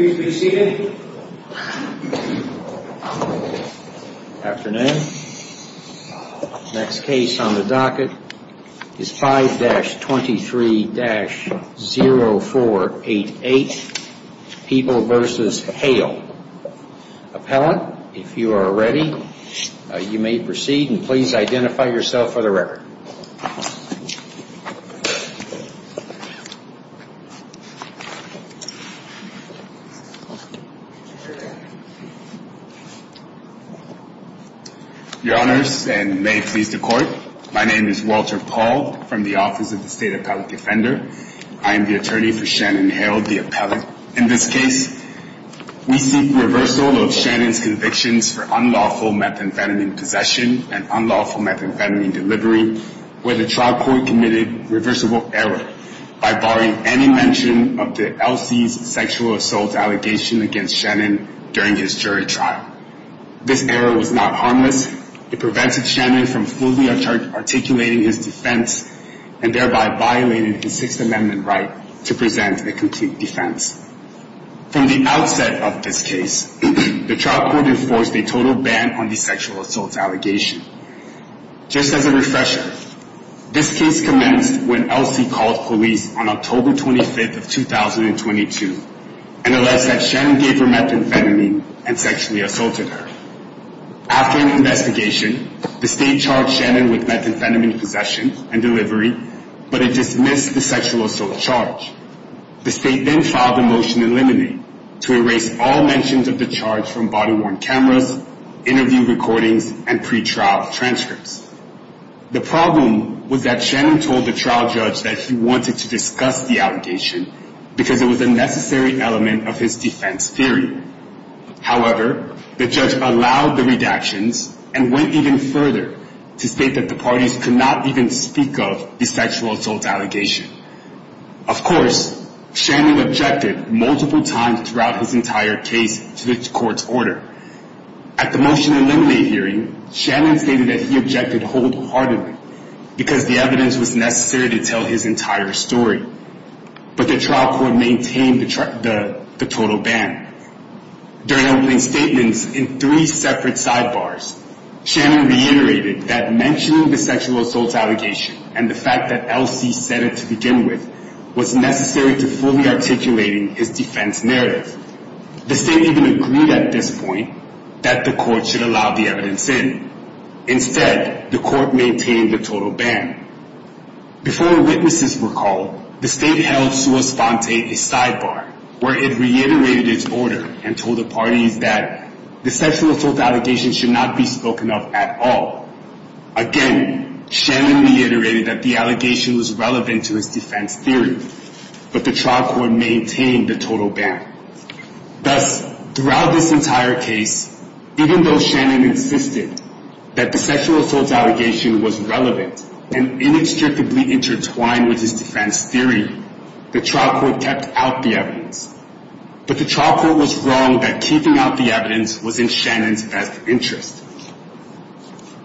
Good afternoon. Next case on the docket is 5-23-0488. People v. Hale. Appellant, if you are ready, you may proceed and please identify yourself for the record. Your Honors, and may it please the Court, my name is Walter Paul from the Office of the State Appellate Defender. I am the attorney for Shannon Hale, the appellant. In this case, we seek reversal of Shannon's convictions for unlawful methamphetamine possession and unlawful methamphetamine delivery where the trial court committed reversible error by barring any mention of the LC's sexual assault allegation against Shannon during his jury trial. This error was not harmless. It prevented Shannon from fully articulating his defense and thereby violated his Sixth Amendment right to present a complete defense. From the outset of this case, the trial court enforced a total ban on the sexual assault allegation. Just as a refresher, this case commenced when LC called police on October 25th of 2022 and alleged that Shannon gave her methamphetamine and sexually assaulted her. After an investigation, the State charged Shannon with methamphetamine possession and delivery, but it dismissed the sexual assault charge. The State then filed a motion in limine to erase all mentions of the charge from body-worn cameras, interview recordings, and pre-trial transcripts. The problem was that Shannon told the trial judge that he wanted to discuss the allegation because it was a necessary element of his defense theory. However, the judge allowed the redactions and went even further to state that the parties could not even speak of the sexual assault allegation. Of course, Shannon objected multiple times throughout his entire case to the court's order. At the motion in limine hearing, Shannon stated that he objected wholeheartedly because the evidence was necessary to tell his entire story, but the trial court maintained the total ban. During opening statements in three separate sidebars, Shannon reiterated that mentioning the sexual assault allegation and the fact that LC said it to begin with was necessary to fully articulating his defense narrative. The State even agreed at this point that the court should allow the evidence in. Instead, the court maintained the total ban. Before witnesses were called, the State held sua sponte a sidebar where it reiterated its order and told the parties that the sexual assault allegation should not be spoken of at all. Again, Shannon reiterated that the allegation was relevant to his defense theory, but the trial court maintained the total ban. Thus, throughout this entire case, even though Shannon insisted that the sexual assault allegation was relevant and inextricably intertwined with his defense theory, the trial court kept out the evidence. But the trial court was wrong that keeping out the evidence was in Shannon's best interest.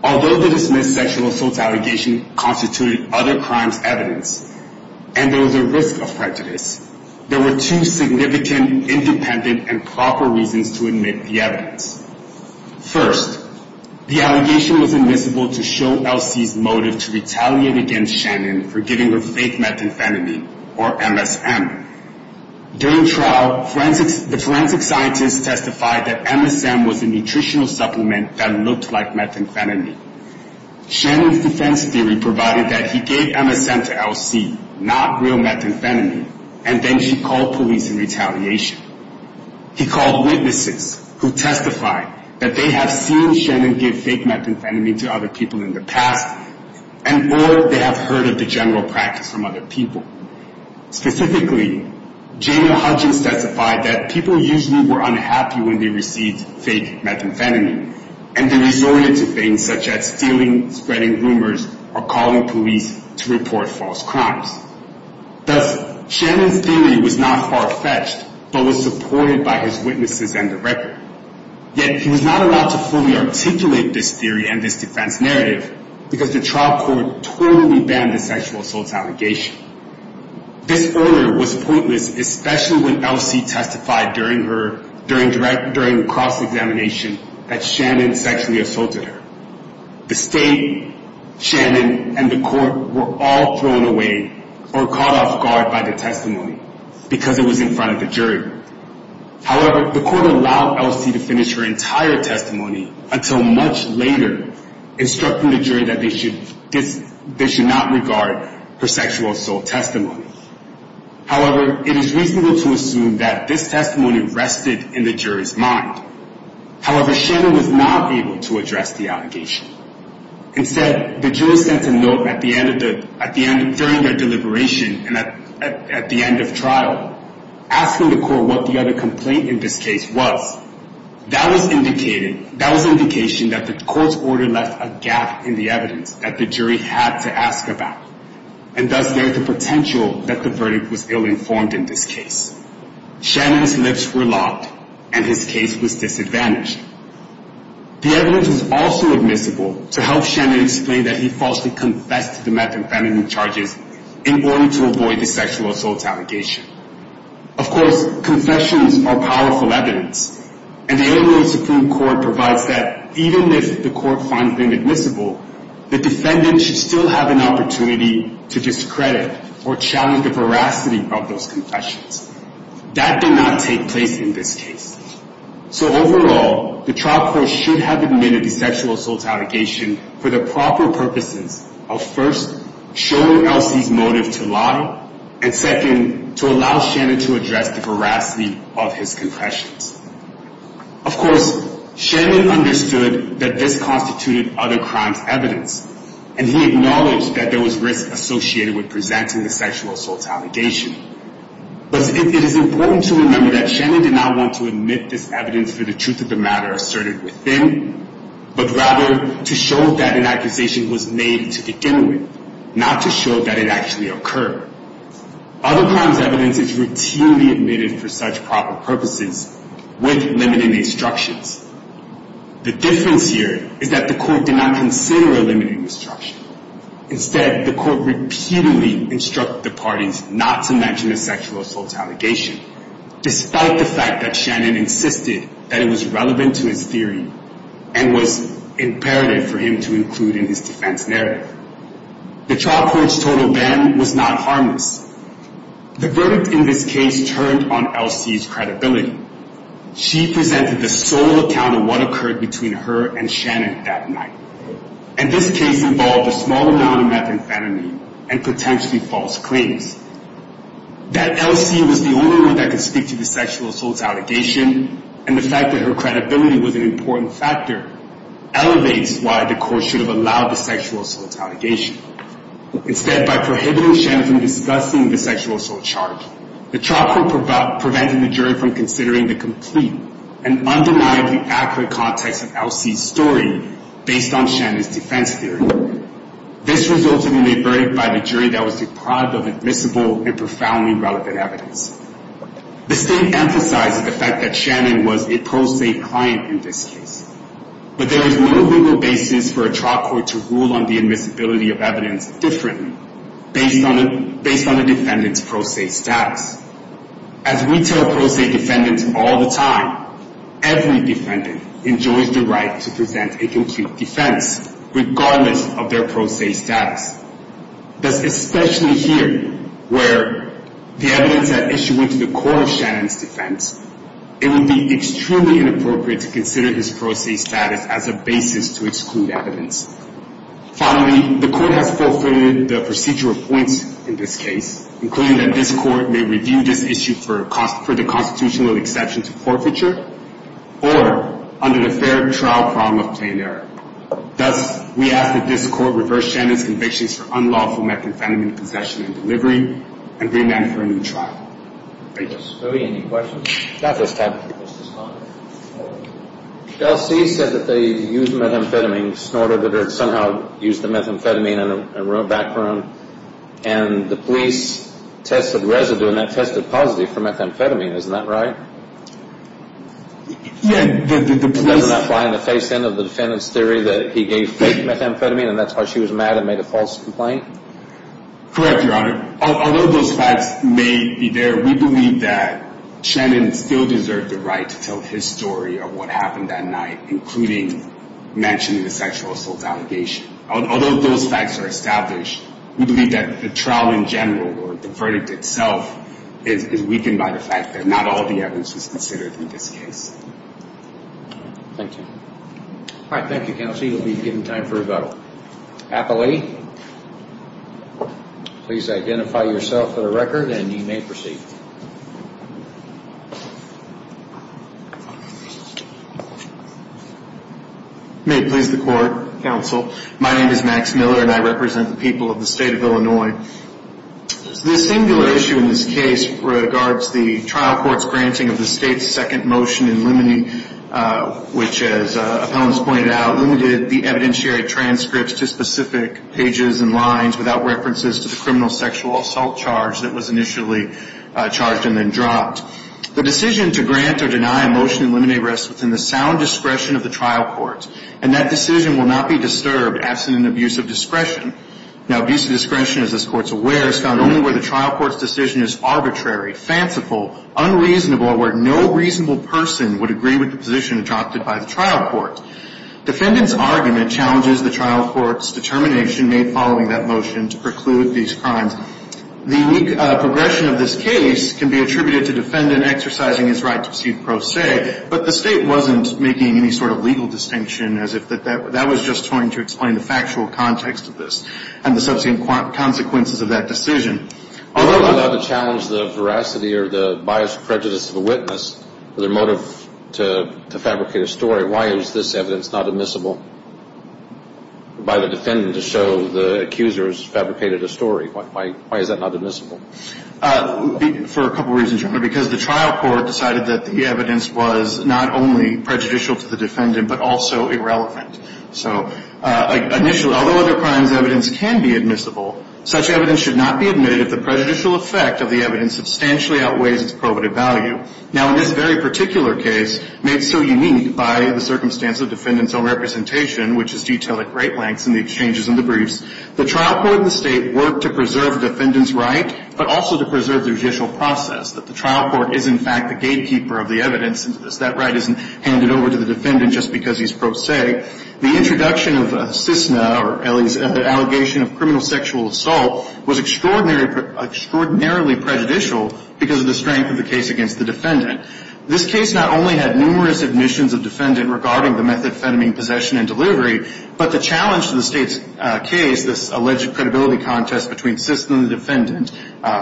Although the dismissed sexual assault allegation constituted other crimes evidence, and there was a risk of prejudice, there were two significant, independent, and proper reasons to admit the evidence. First, the allegation was admissible to show LC's motive to retaliate against Shannon for giving her fake methamphetamine, or MSM. During trial, the forensic scientists testified that MSM was a nutritional supplement that looked like methamphetamine. Shannon's defense theory provided that he gave MSM to LC, not real methamphetamine, and then she called police in retaliation. He called witnesses who testified that they have seen Shannon give fake methamphetamine to other people in the past, and or they have heard of the general practice from other people. Specifically, Jamie Hudgins testified that people usually were unhappy when they received fake methamphetamine, and they resorted to things such as stealing, spreading rumors, or calling police to report false crimes. Thus, Shannon's theory was not far-fetched, but was supported by his witnesses and the record. Yet, he was not allowed to fully articulate this theory and this defense narrative because the trial court totally banned the sexual assault allegation. This order was pointless, especially when LC testified during the cross-examination that Shannon sexually assaulted her. The state, Shannon, and the court were all thrown away or caught off guard by the testimony because it was in front of the jury. However, the court allowed LC to finish her entire testimony until much later, instructing the jury that they should not regard her sexual assault testimony. However, it is reasonable to assume that this testimony rested in the jury's mind. However, Shannon was not able to address the allegation. Instead, the jury sent a note during their deliberation and at the end of trial, asking the court what the other complaint in this case was. That was indication that the court's order left a gap in the evidence that the jury had to ask about, and thus there is the potential that the verdict was ill-informed in this case. Shannon's lips were lopped, and his case was disadvantaged. The evidence was also admissible to help Shannon explain that he falsely confessed to the meth and feminine charges in order to avoid the sexual assault allegation. Of course, confessions are powerful evidence, and the LA Supreme Court provides that even if the court finds them admissible, the defendant should still have an opportunity to discredit or challenge the veracity of those confessions. That did not take place in this case. So overall, the trial court should have admitted the sexual assault allegation for the proper purposes of first, showing Elsie's motive to lie, and second, to allow Shannon to address the veracity of his confessions. Of course, Shannon understood that this constituted other crimes evidence, and he acknowledged that there was risk associated with presenting the sexual assault allegation. But it is important to remember that Shannon did not want to admit this evidence for the truth of the matter asserted within, but rather to show that an accusation was made to begin with, not to show that it actually occurred. Other crimes evidence is routinely admitted for such proper purposes with limiting instructions. The difference here is that the court did not consider a limiting instruction. Instead, the court repeatedly instructed the parties not to mention the sexual assault allegation, despite the fact that Shannon insisted that it was relevant to his theory and was imperative for him to include in his defense narrative. The trial court's total ban was not harmless. The verdict in this case turned on Elsie's credibility. She presented the sole account of what occurred between her and Shannon that night, and this case involved a small amount of methamphetamine and potentially false claims. That Elsie was the only one that could speak to the sexual assault allegation, and the fact that her credibility was an important factor, elevates why the court should have allowed the sexual assault allegation. Instead, by prohibiting Shannon from discussing the sexual assault charge, the trial court prevented the jury from considering the complete and undeniably accurate context of Elsie's story based on Shannon's defense theory. This resulted in a verdict by the jury that was deprived of admissible and profoundly relevant evidence. The state emphasizes the fact that Shannon was a pro se client in this case, but there is no legal basis for a trial court to rule on the admissibility of evidence differently based on a defendant's pro se status. As we tell pro se defendants all the time, every defendant enjoys the right to present a complete defense, regardless of their pro se status. Thus, especially here, where the evidence at issue went to the court of Shannon's defense, it would be extremely inappropriate to consider his pro se status as a basis to exclude evidence. Finally, the court has forfeited the procedural points in this case, including that this court may review this issue for the constitutional exception to forfeiture, or under the fair trial problem of plain error. Thus, we ask that this court reverse Shannon's convictions for unlawful methamphetamine possession and delivery, and remand her a new trial. Thank you. Are there any questions? Not at this time. Chelsea said that they used methamphetamine, snorted it, or somehow used the methamphetamine in her own background. And the police tested residue, and that tested positive for methamphetamine. Isn't that right? Yeah, the police... That was not by the face end of the defendant's theory that he gave fake methamphetamine, and that's why she was mad and made a false complaint? Correct, Your Honor. Although those facts may be there, we believe that Shannon still deserved the right to tell his story of what happened that night, including mentioning the sexual assault allegation. Although those facts are established, we believe that the trial in general, or the verdict itself, is weakened by the fact that not all the evidence was considered in this case. Thank you. All right, thank you, Chelsea. You'll be given time for a vote. Appellee, please identify yourself for the record, and you may proceed. May it please the court, counsel. My name is Max Miller, and I represent the people of the state of Illinois. This singular issue in this case regards the trial court's granting of the state's second motion in limine, which, as appellants pointed out, limited the evidentiary transcripts to specific pages and lines without references to the criminal sexual assault charge that was initially charged and then dropped. The decision to grant or deny a motion in limine rests within the sound discretion of the trial court, and that decision will not be disturbed absent an abuse of discretion. Now, abuse of discretion, as this Court is aware, is found only where the trial court's decision is arbitrary, fanciful, unreasonable, or where no reasonable person would agree with the position adopted by the trial court. Defendant's argument challenges the trial court's determination made following that motion to preclude these crimes. The unique progression of this case can be attributed to defendant exercising his right to proceed pro se, but the state wasn't making any sort of legal distinction, as if that was just trying to explain the factual context of this and the subsequent consequences of that decision. Although not allowed to challenge the veracity or the bias or prejudice of a witness or their motive to fabricate a story, why is this evidence not admissible by the defendant to show the accuser has fabricated a story? Why is that not admissible? For a couple reasons, Your Honor. Because the trial court decided that the evidence was not only prejudicial to the defendant, but also irrelevant. So initially, although other crimes' evidence can be admissible, such evidence should not be admitted if the prejudicial effect of the evidence substantially outweighs its probative value. Now, in this very particular case, made so unique by the circumstance of defendant's own representation, which is detailed at great lengths in the exchanges and the briefs, the trial court and the state worked to preserve the defendant's right, but also to preserve the judicial process, that the trial court is, in fact, the gatekeeper of the evidence. That right isn't handed over to the defendant just because he's pro se. The introduction of CISNA, or Ellie's allegation of criminal sexual assault, was extraordinarily prejudicial because of the strength of the case against the defendant. This case not only had numerous admissions of defendant regarding the methamphetamine possession and delivery, but the challenge to the state's case, this alleged credibility contest between CISNA and the defendant,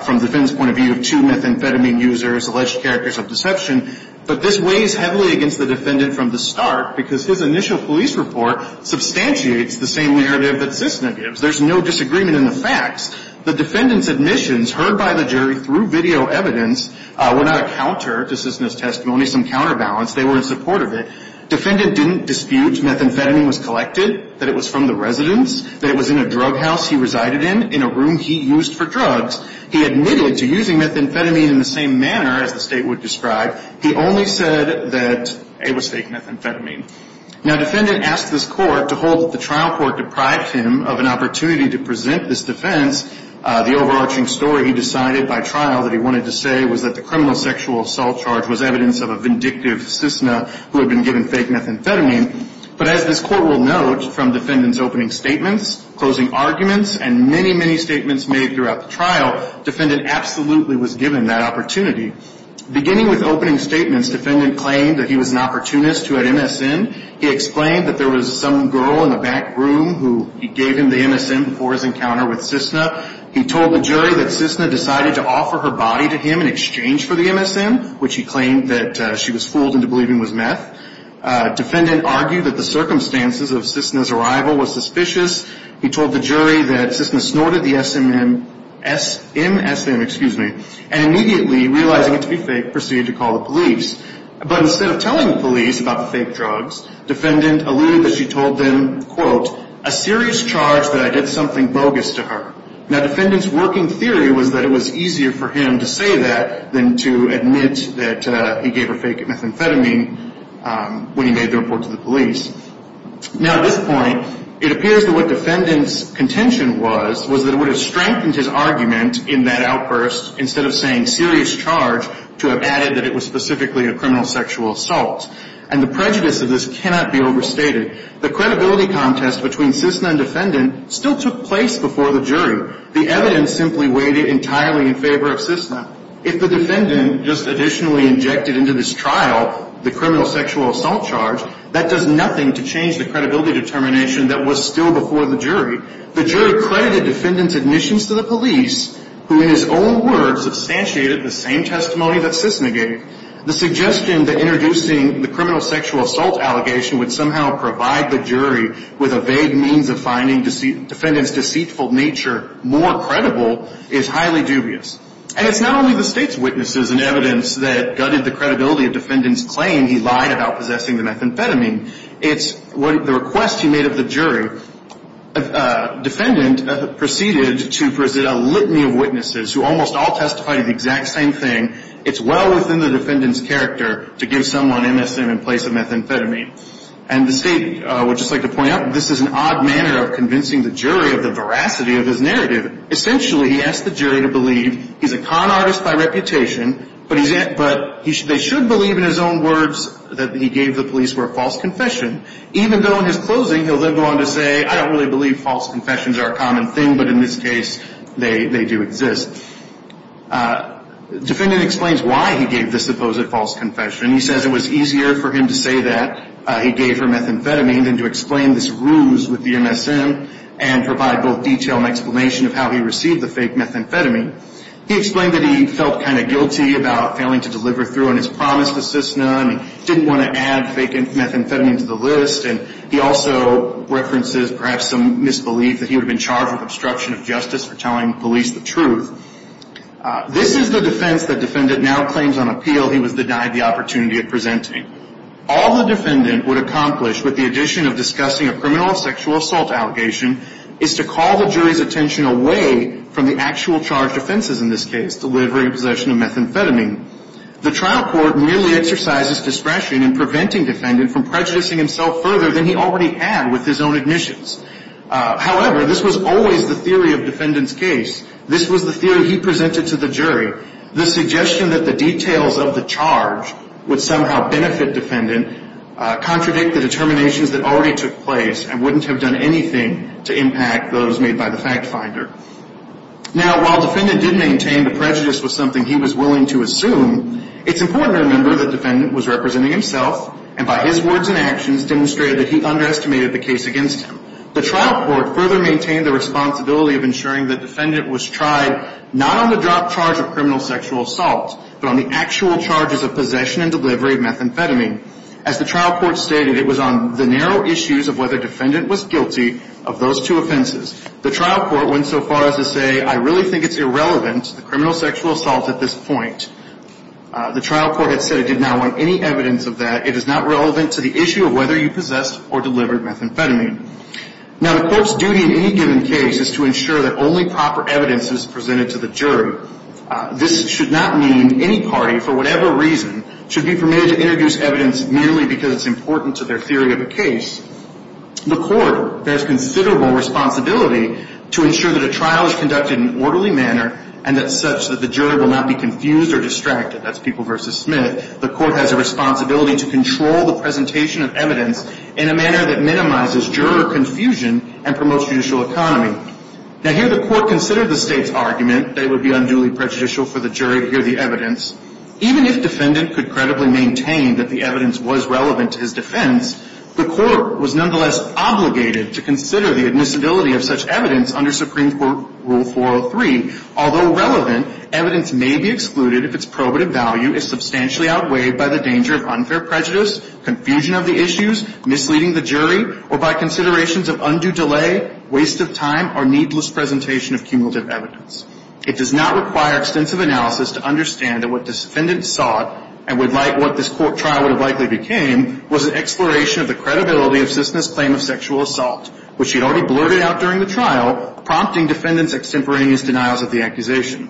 from the defendant's point of view of two methamphetamine users, alleged characters of deception, but this weighs heavily against the defendant from the start because his initial police report substantiates the same narrative that CISNA gives. There's no disagreement in the facts. The defendant's admissions heard by the jury through video evidence were not a counter to CISNA's testimony, some counterbalance. They were in support of it. Defendant didn't dispute methamphetamine was collected, that it was from the residence, that it was in a drug house he resided in, in a room he used for drugs. He admitted to using methamphetamine in the same manner as the state would describe. He only said that it was fake methamphetamine. Now, defendant asked this court to hold that the trial court deprived him of an opportunity to present this defense. The overarching story he decided by trial that he wanted to say was that the criminal sexual assault charge was evidence of a vindictive CISNA who had been given fake methamphetamine, but as this court will note from defendant's opening statements, closing arguments, and many, many statements made throughout the trial, defendant absolutely was given that opportunity. Beginning with opening statements, defendant claimed that he was an opportunist who had MSN. He explained that there was some girl in the back room who he gave him the MSN before his encounter with CISNA. He told the jury that CISNA decided to offer her body to him in exchange for the MSN, which he claimed that she was fooled into believing was meth. Defendant argued that the circumstances of CISNA's arrival was suspicious. He told the jury that CISNA snorted the MSN and immediately, realizing it to be fake, proceeded to call the police. But instead of telling the police about the fake drugs, defendant alluded that she told them, quote, a serious charge that I did something bogus to her. Now, defendant's working theory was that it was easier for him to say that than to admit that he gave her fake methamphetamine when he made the report to the police. Now, at this point, it appears that what defendant's contention was, was that it would have strengthened his argument in that outburst instead of saying serious charge to have added that it was specifically a criminal sexual assault. And the prejudice of this cannot be overstated. The credibility contest between CISNA and defendant still took place before the jury. The evidence simply weighted entirely in favor of CISNA. If the defendant just additionally injected into this trial the criminal sexual assault charge, that does nothing to change the credibility determination that was still before the jury. The jury credited defendant's admissions to the police, who in his own words substantiated the same testimony that CISNA gave. The suggestion that introducing the criminal sexual assault allegation would somehow provide the jury with a vague means of finding defendant's deceitful nature more credible is highly dubious. And it's not only the State's witnesses and evidence that gutted the credibility of defendant's claim he lied about possessing the methamphetamine. It's the request he made of the jury. Defendant proceeded to present a litany of witnesses who almost all testified the exact same thing. It's well within the defendant's character to give someone MSM in place of methamphetamine. And the State would just like to point out this is an odd manner of convincing the jury of the veracity of his narrative. Essentially, he asked the jury to believe he's a con artist by reputation, but they should believe in his own words that he gave the police were a false confession, even though in his closing he'll live on to say, I don't really believe false confessions are a common thing, but in this case they do exist. Defendant explains why he gave this supposed false confession. He says it was easier for him to say that he gave her methamphetamine than to explain this ruse with the MSM and provide both detail and explanation of how he received the fake methamphetamine. He explained that he felt kind of guilty about failing to deliver through on his promise to Cisna and he didn't want to add fake methamphetamine to the list. And he also references perhaps some misbelief that he would have been charged with obstruction of justice for telling police the truth. This is the defense that defendant now claims on appeal he was denied the opportunity of presenting. All the defendant would accomplish with the addition of discussing a criminal sexual assault allegation is to call the jury's attention away from the actual charged offenses in this case, delivery, possession of methamphetamine. The trial court merely exercises discretion in preventing defendant from prejudicing himself further than he already had with his own admissions. However, this was always the theory of defendant's case. This was the theory he presented to the jury. The suggestion that the details of the charge would somehow benefit defendant contradict the determinations that already took place and wouldn't have done anything to impact those made by the fact finder. Now, while defendant did maintain the prejudice was something he was willing to assume, it's important to remember that defendant was representing himself and by his words and actions demonstrated that he underestimated the case against him. The trial court further maintained the responsibility of ensuring that defendant was tried not on the drop charge of criminal sexual assault, but on the actual charges of possession and delivery of methamphetamine. As the trial court stated, it was on the narrow issues of whether defendant was guilty of those two offenses. The trial court went so far as to say, I really think it's irrelevant, the criminal sexual assault at this point. The trial court had said it did not want any evidence of that. It is not relevant to the issue of whether you possessed or delivered methamphetamine. Now, the court's duty in any given case is to ensure that only proper evidence is presented to the jury. This should not mean any party, for whatever reason, should be permitted to introduce evidence merely because it's important to their theory of a case. The court bears considerable responsibility to ensure that a trial is conducted in an orderly manner and that such that the jury will not be confused or distracted. That's people versus Smith. The court has a responsibility to control the presentation of evidence in a manner that minimizes juror confusion and promotes judicial economy. Now, here the court considered the state's argument that it would be unduly prejudicial for the jury to hear the evidence. Even if defendant could credibly maintain that the evidence was relevant to his defense, the court was nonetheless obligated to consider the admissibility of such evidence under Supreme Court Rule 403. Although relevant, evidence may be excluded if its probative value is substantially outweighed by the danger of unfair prejudice, confusion of the issues, misleading the jury, or by considerations of undue delay, waste of time, or needless presentation of cumulative evidence. It does not require extensive analysis to understand that what this defendant sought and would like what this court trial would have likely became was an exploration of the credibility of Cissna's claim of sexual assault, which she had already blurted out during the trial, prompting defendant's extemporaneous denials of the accusation.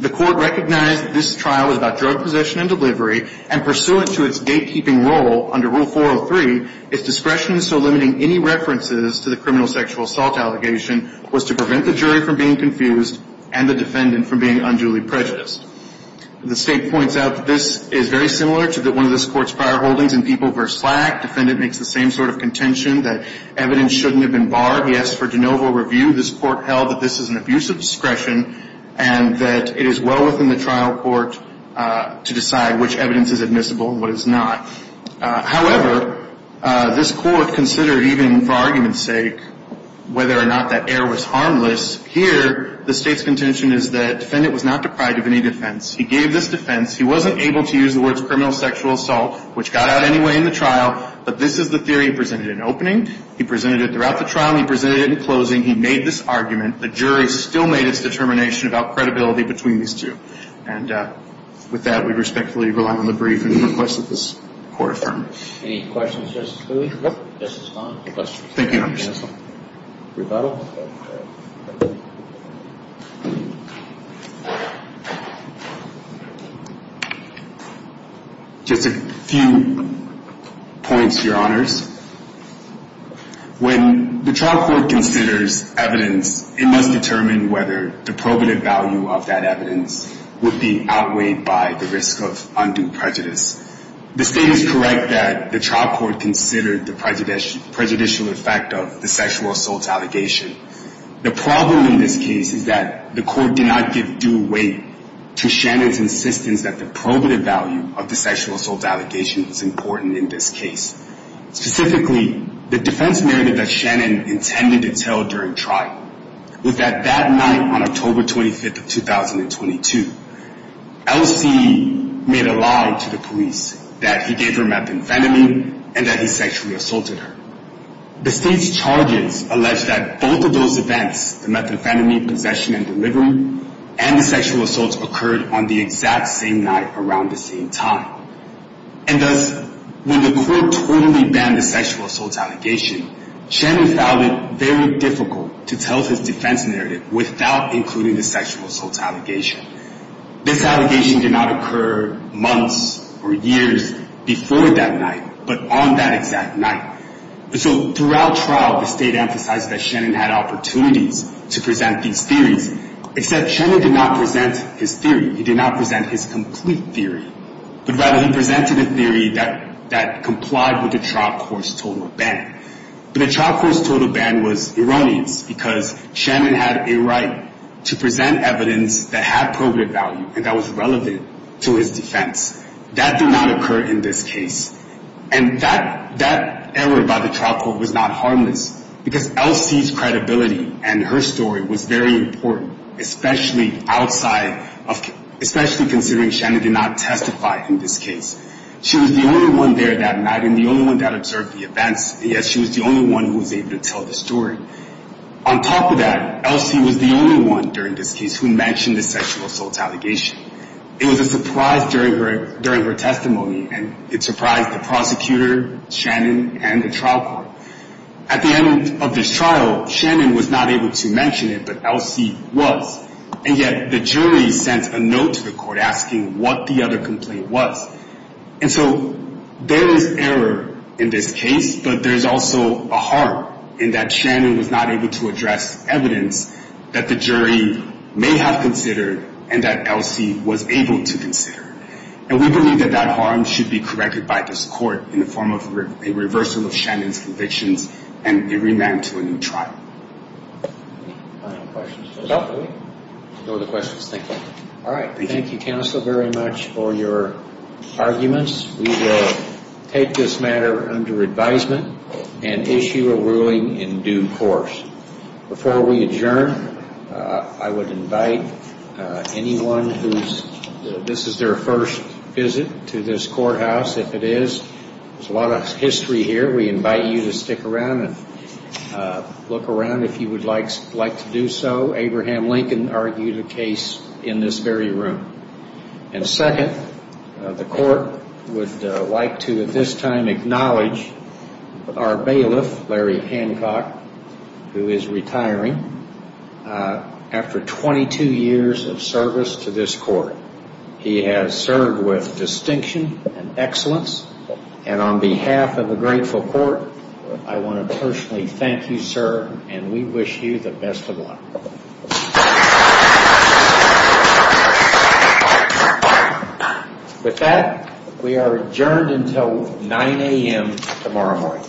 The court recognized that this trial was about drug possession and delivery and pursuant to its gatekeeping role under Rule 403, its discretion in so limiting any references to the criminal sexual assault allegation was to prevent the jury from being confused and the defendant from being unduly prejudiced. The state points out that this is very similar to one of this court's prior holdings in People v. Slack. Defendant makes the same sort of contention that evidence shouldn't have been barred. He asked for de novo review. This court held that this is an abuse of discretion and that it is well within the trial court to decide which evidence is admissible and what is not. However, this court considered even for argument's sake whether or not that error was harmless. Here the state's contention is that defendant was not deprived of any defense. He gave this defense. He wasn't able to use the words criminal sexual assault, which got out anyway in the trial, but this is the theory he presented in opening. He presented it throughout the trial. He presented it in closing. He made this argument. The jury still made its determination about credibility between these two. And with that, we respectfully rely on the brief and request that this court affirm. Any questions, Justice Cooley? Nope. Justice Kahn? Thank you, Your Honor. Rebuttal? Just a few points, Your Honors. When the trial court considers evidence, it must determine whether the probative value of that evidence would be outweighed by the risk of undue prejudice. The state is correct that the trial court considered the prejudicial effect of the sexual assault allegation. The problem in this case is that the court did not give due weight to Shannon's insistence that the probative value of the sexual assault allegation was important in this case. Specifically, the defense narrative that Shannon intended to tell during trial was that that night on October 25th of 2022, L.C. made a lie to the police that he gave her methamphetamine and that he sexually assaulted her. The state's charges allege that both of those events, the methamphetamine possession and delivery, and the sexual assault occurred on the exact same night around the same time. And thus, when the court totally banned the sexual assault allegation, Shannon found it very difficult to tell his defense narrative without including the sexual assault allegation. This allegation did not occur months or years before that night, but on that exact night. And so, throughout trial, the state emphasized that Shannon had opportunities to present these theories, except Shannon did not present his theory. He did not present his complete theory, but rather he presented a theory that complied with the trial court's total ban. But the trial court's total ban was erroneous, because Shannon had a right to present evidence that had probative value and that was relevant to his defense. That did not occur in this case. And that error by the trial court was not harmless, because L.C.'s credibility and her story was very important, especially considering Shannon did not testify in this case. She was the only one there that night and the only one that observed the events, yet she was the only one who was able to tell the story. On top of that, L.C. was the only one during this case who mentioned the sexual assault allegation. It was a surprise during her testimony, and it surprised the prosecutor, Shannon, and the trial court. At the end of this trial, Shannon was not able to mention it, but L.C. was. And yet the jury sent a note to the court asking what the other complaint was. And so there is error in this case, but there's also a harm in that Shannon was not able to address evidence that the jury may have considered and that L.C. was able to consider. And we believe that that harm should be corrected by this court in the form of a reversal of Shannon's convictions and a remand to a new trial. Any final questions? No. No other questions. Thank you. All right. Thank you, counsel, very much for your arguments. We will take this matter under advisement and issue a ruling in due course. Before we adjourn, I would invite anyone who's, this is their first visit to this courthouse. If it is, there's a lot of history here. We invite you to stick around and look around if you would like to do so. Abraham Lincoln argued a case in this very room. And second, the court would like to at this time acknowledge our bailiff, Larry Hancock, who is retiring after 22 years of service to this court. He has served with distinction and excellence. And on behalf of the grateful court, I want to personally thank you, sir, and we wish you the best of luck. With that, we are adjourned until 9 a.m. tomorrow morning.